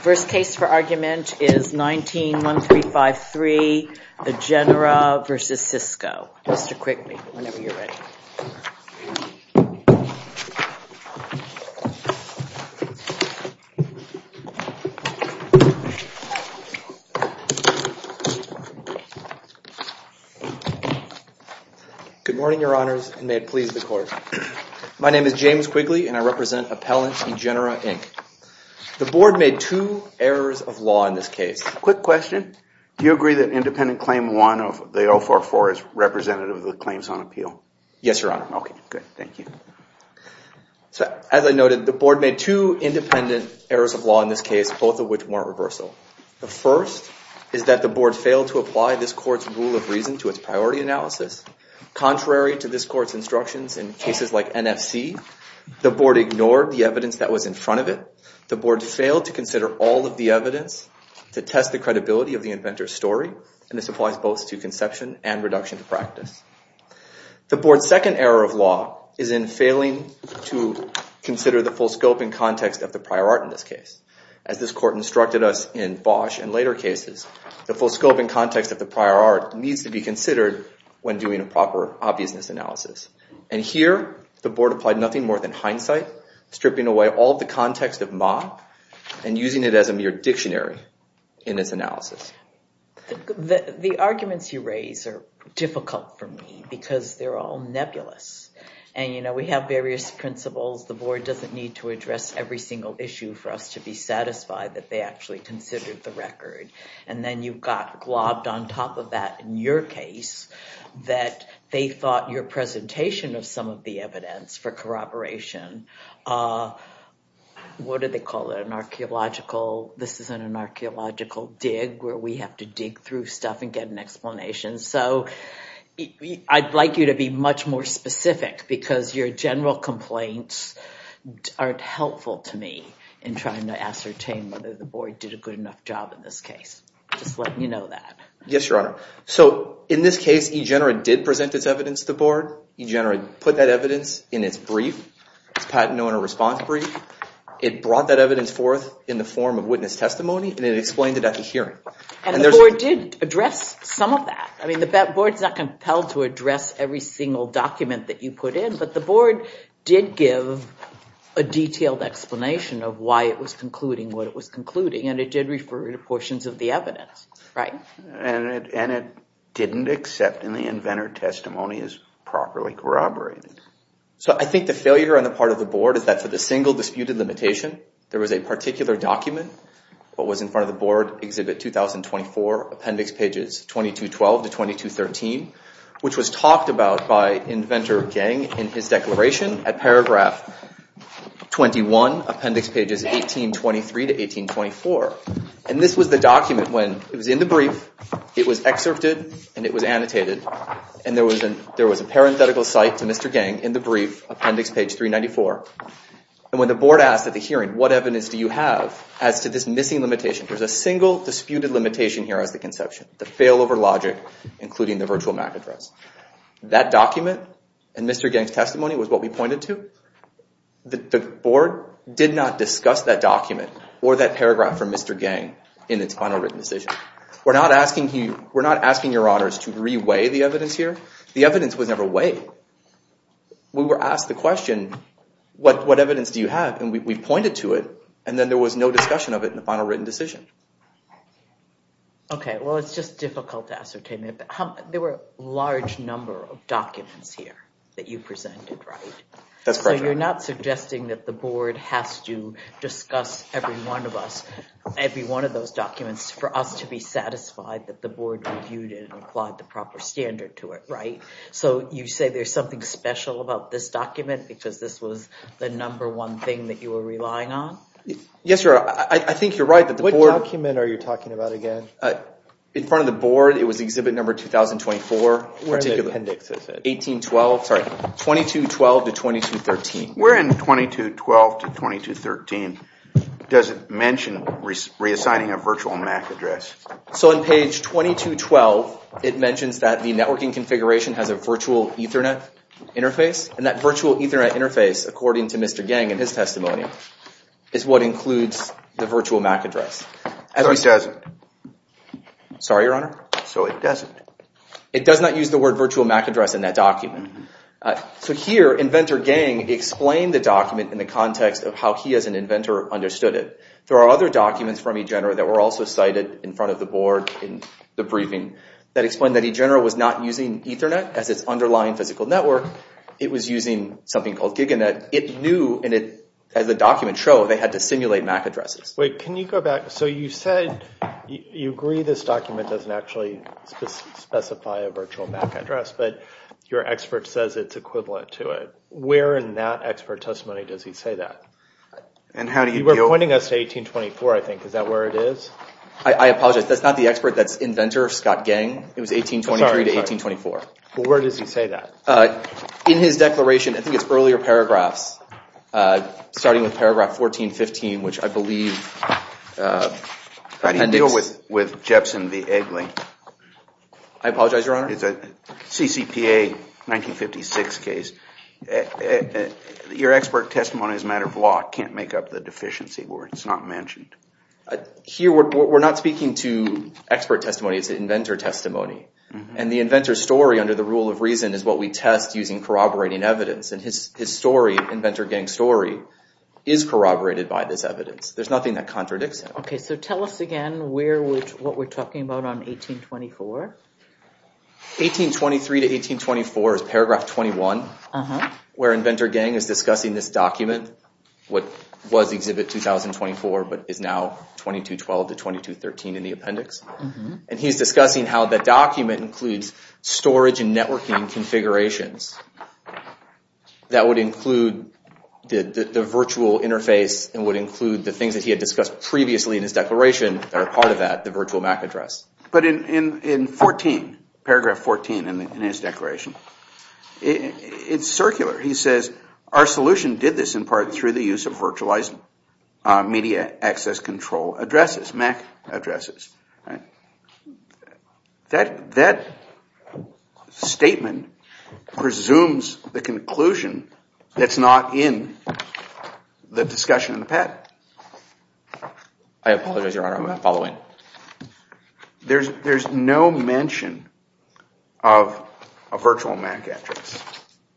First case for argument is 19-1353, Egenera v. Cisco. Mr. Quigley, whenever you're ready. Good morning, Your Honors, and may it please the Court. My name is James Quigley, and I represent Appellant Egenera, Inc. The Board made two errors of law in this case. Quick question. Do you agree that independent claim one of the 044 is representative of the claims on appeal? Yes, Your Honor. Okay, good. Thank you. So, as I noted, the Board made two independent errors of law in this case, both of which weren't reversal. The first is that the Board failed to apply this Court's rule of reason to its priority analysis. Contrary to this Court's instructions in cases like NFC, the Board ignored the evidence that was in front of it. The Board failed to consider all of the evidence to test the credibility of the inventor's story, and this applies both to conception and reduction to practice. The Board's second error of law is in failing to consider the full scope and context of the prior art in this case. As this Court instructed us in Bosch and later cases, the full scope and context of the prior art needs to be considered when doing a proper obviousness analysis. And here, the Board applied nothing more than hindsight, stripping away all of the context of Ma, and using it as a mere dictionary in its analysis. The arguments you raise are difficult for me because they're all nebulous. And, you know, we have various principles. The Board doesn't need to address every single issue for us to be satisfied that they actually considered the record. And then you've got globbed on top of that, in your case, that they thought your presentation of some of the evidence for corroboration, what did they call it, an archaeological, this isn't an archaeological dig where we have to dig through stuff and get an explanation. So I'd like you to be much more specific because your general complaints aren't helpful to me in trying to ascertain whether the Board did a good enough job in this case. Just let me know that. Yes, Your Honor. So, in this case, eGENERA did present its evidence to the Board. eGENERA put that evidence in its brief, its patent owner response brief. It brought that evidence forth in the form of witness testimony and it explained it at the hearing. And the Board did address some of that. I mean, the Board's not compelled to address every single document that you put in, but the Board did give a detailed explanation of why it was concluding what it was concluding, and it did refer to portions of the evidence. Right. And it didn't accept any inventor testimony as properly corroborated. So I think the failure on the part of the Board is that for the single disputed limitation, there was a particular document that was in front of the Board, Exhibit 2024, Appendix Pages 2212 to 2213, which was talked about by Inventor Geng in his declaration at Paragraph 21, Appendix Pages 1823 to 1824. And this was the document when it was in the brief, it was excerpted, and it was annotated, and there was a parenthetical cite to Mr. Geng in the brief, Appendix Page 394. And when the Board asked at the hearing, What evidence do you have as to this missing limitation? There's a single disputed limitation here as the conception, the failover logic, including the virtual MAC address. That document and Mr. Geng's testimony was what we pointed to. The Board did not discuss that document or that paragraph from Mr. Geng in its final written decision. We're not asking your honors to re-weigh the evidence here. The evidence was never weighed. We were asked the question, What evidence do you have? And we pointed to it, and then there was no discussion of it in the final written decision. Okay, well, it's just difficult to ascertain. There were a large number of documents here that you presented, right? That's correct. So you're not suggesting that the Board has to discuss every one of us, every one of those documents, for us to be satisfied that the Board reviewed it and applied the proper standard to it, right? So you say there's something special about this document because this was the number one thing that you were relying on? Yes, Your Honor, I think you're right. What document are you talking about again? In front of the Board, it was exhibit number 2024. Where in the appendix is it? 1812, sorry, 2212 to 2213. Where in 2212 to 2213 does it mention reassigning a virtual MAC address? So on page 2212, it mentions that the networking configuration has a virtual Ethernet interface, and that virtual Ethernet interface, according to Mr. Gang in his testimony, is what includes the virtual MAC address. So it doesn't. Sorry, Your Honor? So it doesn't. It does not use the word virtual MAC address in that document. So here, Inventor Gang explained the document in the context of how he as an inventor understood it. There are other documents from eGenera that were also cited in front of the Board in the briefing that explained that eGenera was not using Ethernet as its underlying physical network. It was using something called GigaNet. It knew, and as the documents show, they had to simulate MAC addresses. Wait, can you go back? So you said you agree this document doesn't actually specify a virtual MAC address, but your expert says it's equivalent to it. Where in that expert testimony does he say that? You were pointing us to 1824, I think. Is that where it is? I apologize. That's not the expert. That's Inventor Scott Gang. It was 1823 to 1824. Well, where does he say that? In his declaration, I think it's earlier paragraphs, starting with paragraph 1415, which I believe appendix. How do you deal with Jepson v. Eggly? I apologize, Your Honor? It's a CCPA 1956 case. Your expert testimony is a matter of law. It can't make up the deficiency where it's not mentioned. Here, we're not speaking to expert testimony. It's inventor testimony. And the inventor's story, under the rule of reason, is what we test using corroborating evidence. And his story, Inventor Gang's story, is corroborated by this evidence. There's nothing that contradicts it. Okay, so tell us again what we're talking about on 1824. 1823 to 1824 is paragraph 21, where Inventor Gang is discussing this document, what was Exhibit 2024 but is now 2212 to 2213 in the appendix. And he's discussing how the document includes storage and networking configurations that would include the virtual interface and would include the things that he had discussed previously in his declaration that are part of that, the virtual MAC address. But in 14, paragraph 14 in his declaration, it's circular. He says, our solution did this in part through the use of virtualized media access control addresses, MAC addresses. That statement presumes the conclusion that's not in the discussion in the patent. I apologize, Your Honor. There's no mention of a virtual MAC address,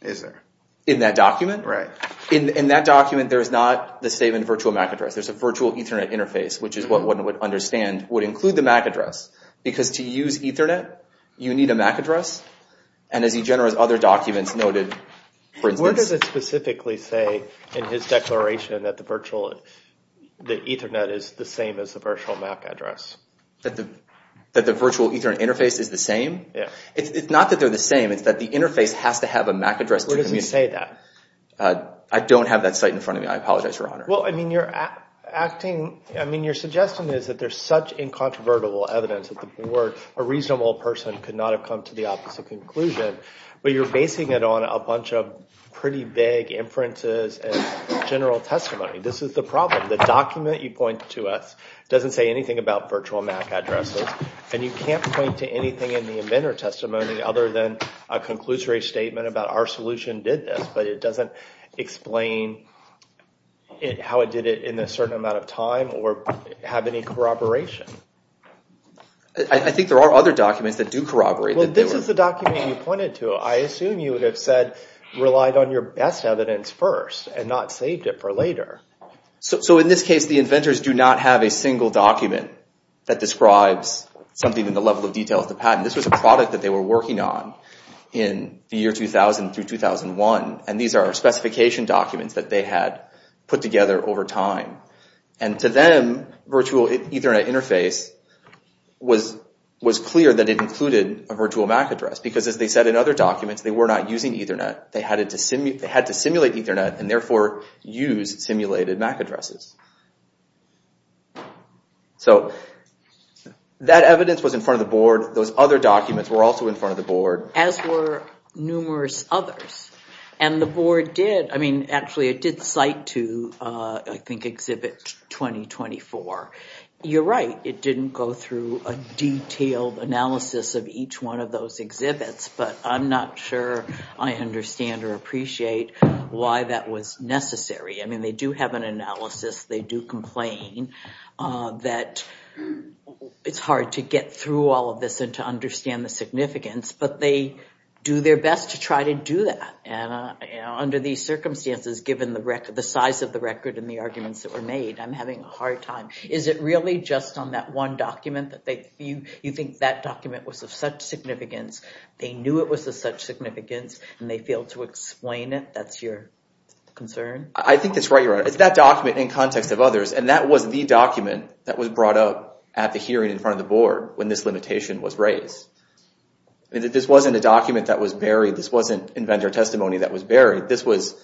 is there? In that document? Right. In that document, there's not the same virtual MAC address. There's a virtual Ethernet interface, which is what one would understand would include the MAC address. Because to use Ethernet, you need a MAC address. And as he generally has other documents noted, for instance... What does it specifically say in his declaration that Ethernet is the same as the virtual MAC address? That the virtual Ethernet interface is the same? Yeah. It's not that they're the same. It's that the interface has to have a MAC address. Where does he say that? I don't have that site in front of me. I apologize, Your Honor. Well, I mean, you're acting... I mean, your suggestion is that there's such incontrovertible evidence that the board, a reasonable person, could not have come to the opposite conclusion. But you're basing it on a bunch of pretty vague inferences and general testimony. This is the problem. The document you point to us doesn't say anything about virtual MAC addresses. And you can't point to anything in the inventor testimony other than a conclusory statement about our solution did this. But it doesn't explain how it did it in a certain amount of time or have any corroboration. I think there are other documents that do corroborate. Well, this is the document you pointed to. I assume you would have said relied on your best evidence first and not saved it for later. So in this case, the inventors do not have a single document that describes something in the level of detail of the patent. This was a product that they were working on in the year 2000 through 2001. And these are specification documents that they had put together over time. And to them, virtual Ethernet interface was clear that it included a virtual MAC address. Because as they said in other documents, they were not using Ethernet. They had to simulate Ethernet and therefore use simulated MAC addresses. So that evidence was in front of the board. Those other documents were also in front of the board. As were numerous others. And the board did. I mean, actually, it did cite to, I think, exhibit 2024. You're right. It didn't go through a detailed analysis of each one of those exhibits. But I'm not sure I understand or appreciate why that was necessary. I mean, they do have an analysis. They do complain that it's hard to get through all of this and to understand the significance. But they do their best to try to do that. And under these circumstances, given the size of the record and the arguments that were made, I'm having a hard time. Is it really just on that one document that you think that document was of such significance, they knew it was of such significance, and they failed to explain it? That's your concern? I think that's right, Your Honor. It's that document in context of others. was raised. This wasn't a document that was buried. This wasn't inventor testimony that was buried. This was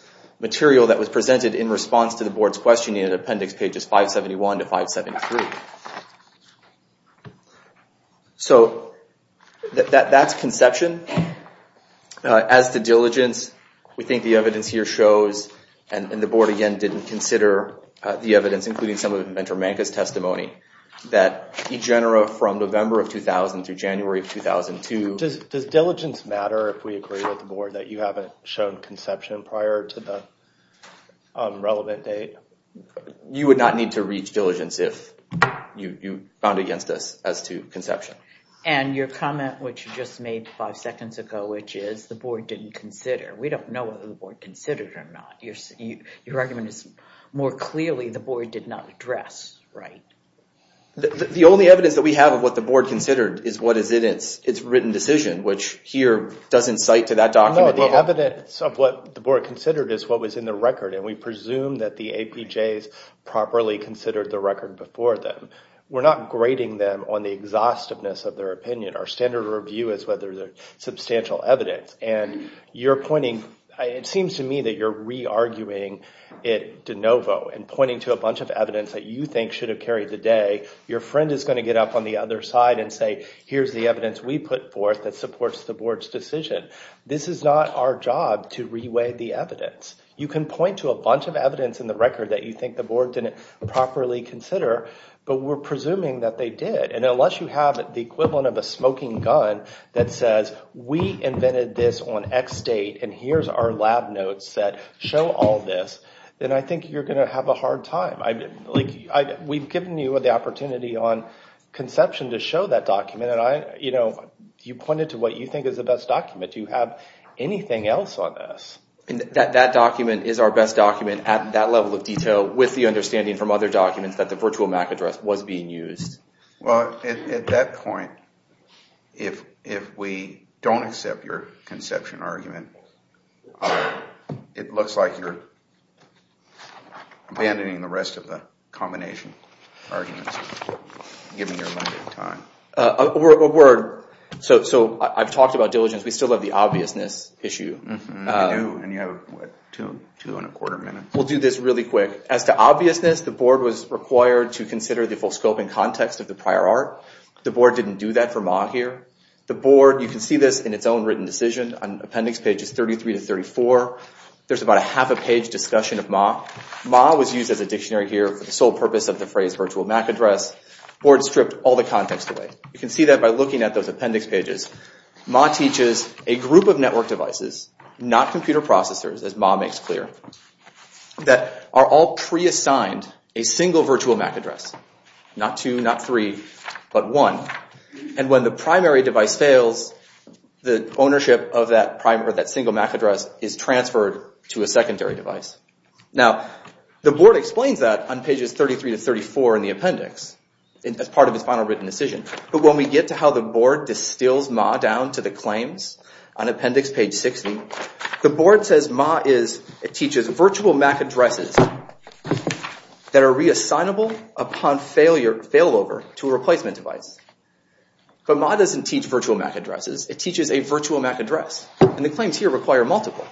material that was presented in response to the board's questioning in appendix pages 571 to 573. So that's conception. As to diligence, we think the evidence here shows, and the board, again, that e genera from November of 2000 through January of 2002. Does diligence matter if we agree with the board that you haven't shown conception prior to the relevant date? You would not need to reach diligence if you found it against us as to conception. And your comment, which you just made five seconds ago, which is the board didn't consider. We don't know whether the board considered it or not. Your argument is more clearly the board did not address, right? The only evidence that we have of what the board considered is what is in its written decision, which here doesn't cite to that document. No, the evidence of what the board considered is what was in the record, and we presume that the APJs properly considered the record before them. We're not grading them on the exhaustiveness of their opinion. Our standard review is whether there's substantial evidence. It seems to me that you're re-arguing it de novo and pointing to a bunch of evidence that you think should have carried the day. Your friend is going to get up on the other side and say, here's the evidence we put forth that supports the board's decision. This is not our job to re-weigh the evidence. You can point to a bunch of evidence in the record that you think the board didn't properly consider, but we're presuming that they did. Unless you have the equivalent of a smoking gun that says, we invented this on X date and here's our lab notes that show all this, then I think you're going to have a hard time. We've given you the opportunity on conception to show that document, and you pointed to what you think is the best document. Do you have anything else on this? That document is our best document at that level of detail with the understanding from other documents that the virtual MAC address was being used. Well, at that point, if we don't accept your conception argument, it looks like you're abandoning the rest of the combination arguments, given your limited time. A word. So I've talked about diligence. We still have the obviousness issue. We do, and you have, what, two and a quarter minutes? We'll do this really quick. As to obviousness, the board was required to consider the full scope and context of the prior art. The board didn't do that for MA here. The board, you can see this in its own written decision on appendix pages 33 to 34. There's about a half a page discussion of MA. MA was used as a dictionary here for the sole purpose of the phrase virtual MAC address. The board stripped all the context away. You can see that by looking at those appendix pages. MA teaches a group of network devices, not computer processors, as MA makes clear, that are all pre-assigned a single virtual MAC address. Not two, not three, but one. And when the primary device fails, the ownership of that single MAC address is transferred to a secondary device. Now, the board explains that on pages 33 to 34 in the appendix, as part of its final written decision. But when we get to how the board distills MA down to the claims on appendix page 60, the board says MA teaches virtual MAC addresses that are reassignable upon failover to a replacement device. But MA doesn't teach virtual MAC addresses. It teaches a virtual MAC address. And the claims here require multiple.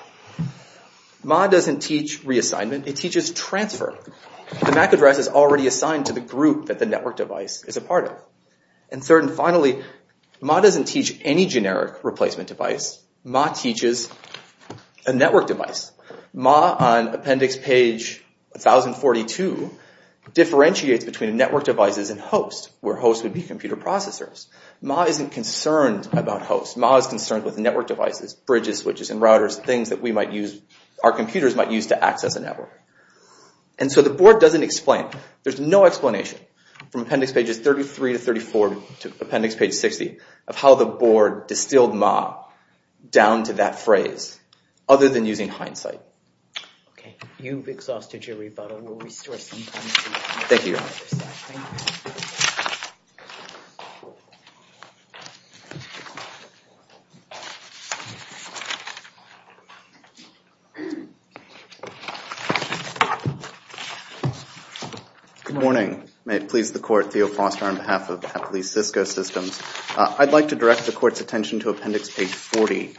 MA doesn't teach reassignment. It teaches transfer. The MAC address is already assigned to the group that the network device is a part of. And third and finally, MA doesn't teach any generic replacement device. MA teaches a network device. MA on appendix page 1042 differentiates between network devices and hosts, where hosts would be computer processors. MA isn't concerned about hosts. MA is concerned with network devices, bridges, switches, and routers, things that our computers might use to access a network. And so the board doesn't explain. There's no explanation from appendix pages 33 to 34 to appendix page 60 of how the board distilled MA down to that phrase, other than using hindsight. Okay. You've exhausted your rebuttal. We'll restore some time. Thank you, Your Honor. Good morning. May it please the Court, I'm Robert Theo Foster on behalf of Appalachia Cisco Systems. I'd like to direct the Court's attention to appendix page 40,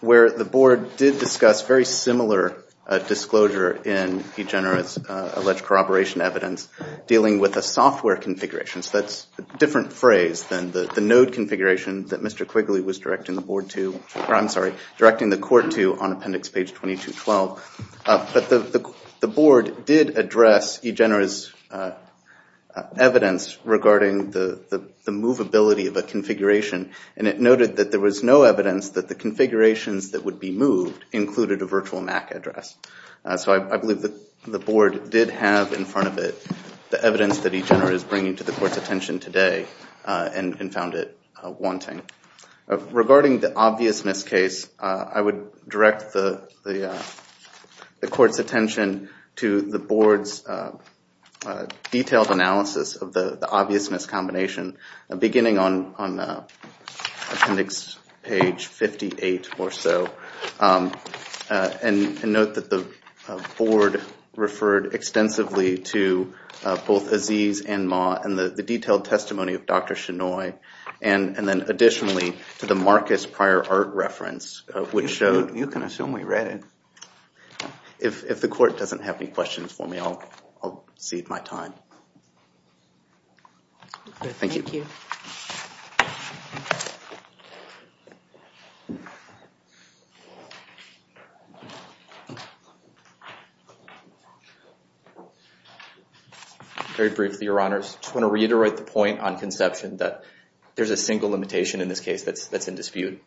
where the board did discuss very similar disclosure in eGenera's alleged corroboration evidence dealing with a software configuration. So that's a different phrase than the node configuration that Mr. Quigley was directing the board to or, I'm sorry, directing the Court to on appendix page 2212. But the board did address eGenera's evidence regarding the movability of a configuration, and it noted that there was no evidence that the configurations that would be moved included a virtual MAC address. So I believe the board did have in front of it the evidence that eGenera is bringing to the Court's attention today and found it wanting. Regarding the obviousness case, I would direct the Court's attention to the board's detailed analysis of the obviousness combination, beginning on appendix page 58 or so. And note that the board referred extensively to both Aziz and Ma and the detailed testimony of Dr. Shenoy, and then additionally to the Marcus Pryor art reference, which showed... You can assume we read it. If the Court doesn't have any questions for me, I'll cede my time. Thank you. Very briefly, Your Honors. I just want to reiterate the point on conception that there's a single limitation in this case that's in dispute.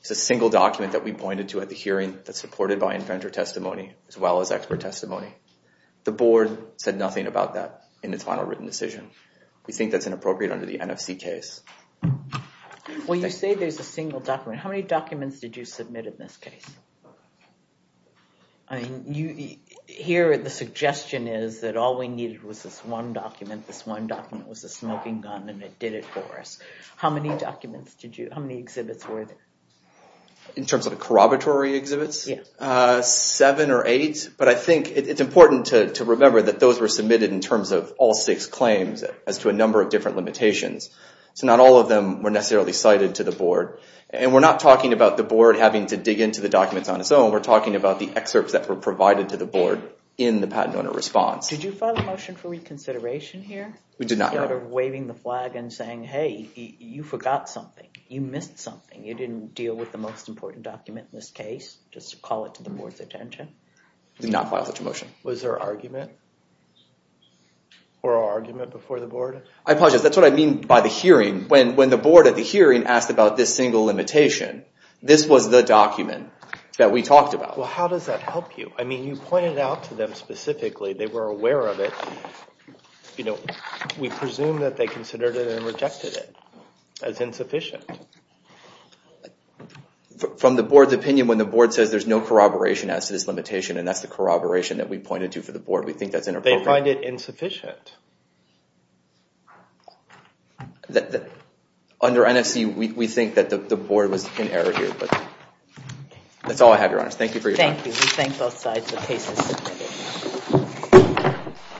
It's a single document that we pointed to at the hearing that's supported by inventor testimony as well as expert testimony. The board said nothing about that in its final written decision. We think that's inappropriate under the NFC case. Well, you say there's a single document. How many documents did you submit in this case? I mean, here the suggestion is that all we needed was this one document. This one document was a smoking gun, and it did it for us. How many documents did you... How many exhibits were there? In terms of corroboratory exhibits? Yeah. Seven or eight, but I think it's important to remember that those were submitted in terms of all six claims as to a number of different limitations. So not all of them were necessarily cited to the board. And we're not talking about the board having to dig into the documents on its own. We're talking about the excerpts that were provided to the board in the patent owner response. Did you file a motion for reconsideration here? We did not. Instead of waving the flag and saying, hey, you forgot something. You missed something. You didn't deal with the most important document in this case. Just call it to the board's attention. We did not file such a motion. Was there argument? Or argument before the board? I apologize. That's what I mean by the hearing. When the board at the hearing asked about this single limitation, this was the document that we talked about. Well, how does that help you? I mean, you pointed out to them specifically they were aware of it. We presume that they considered it and rejected it as insufficient. From the board's opinion, when the board says there's no corroboration as to this limitation, and that's the corroboration that we pointed to for the board, we think that's inappropriate. They find it insufficient. Under NFC, we think that the board was in error here. That's all I have, Your Honor. Thank you for your time. Thank you. We thank both sides for cases submitted.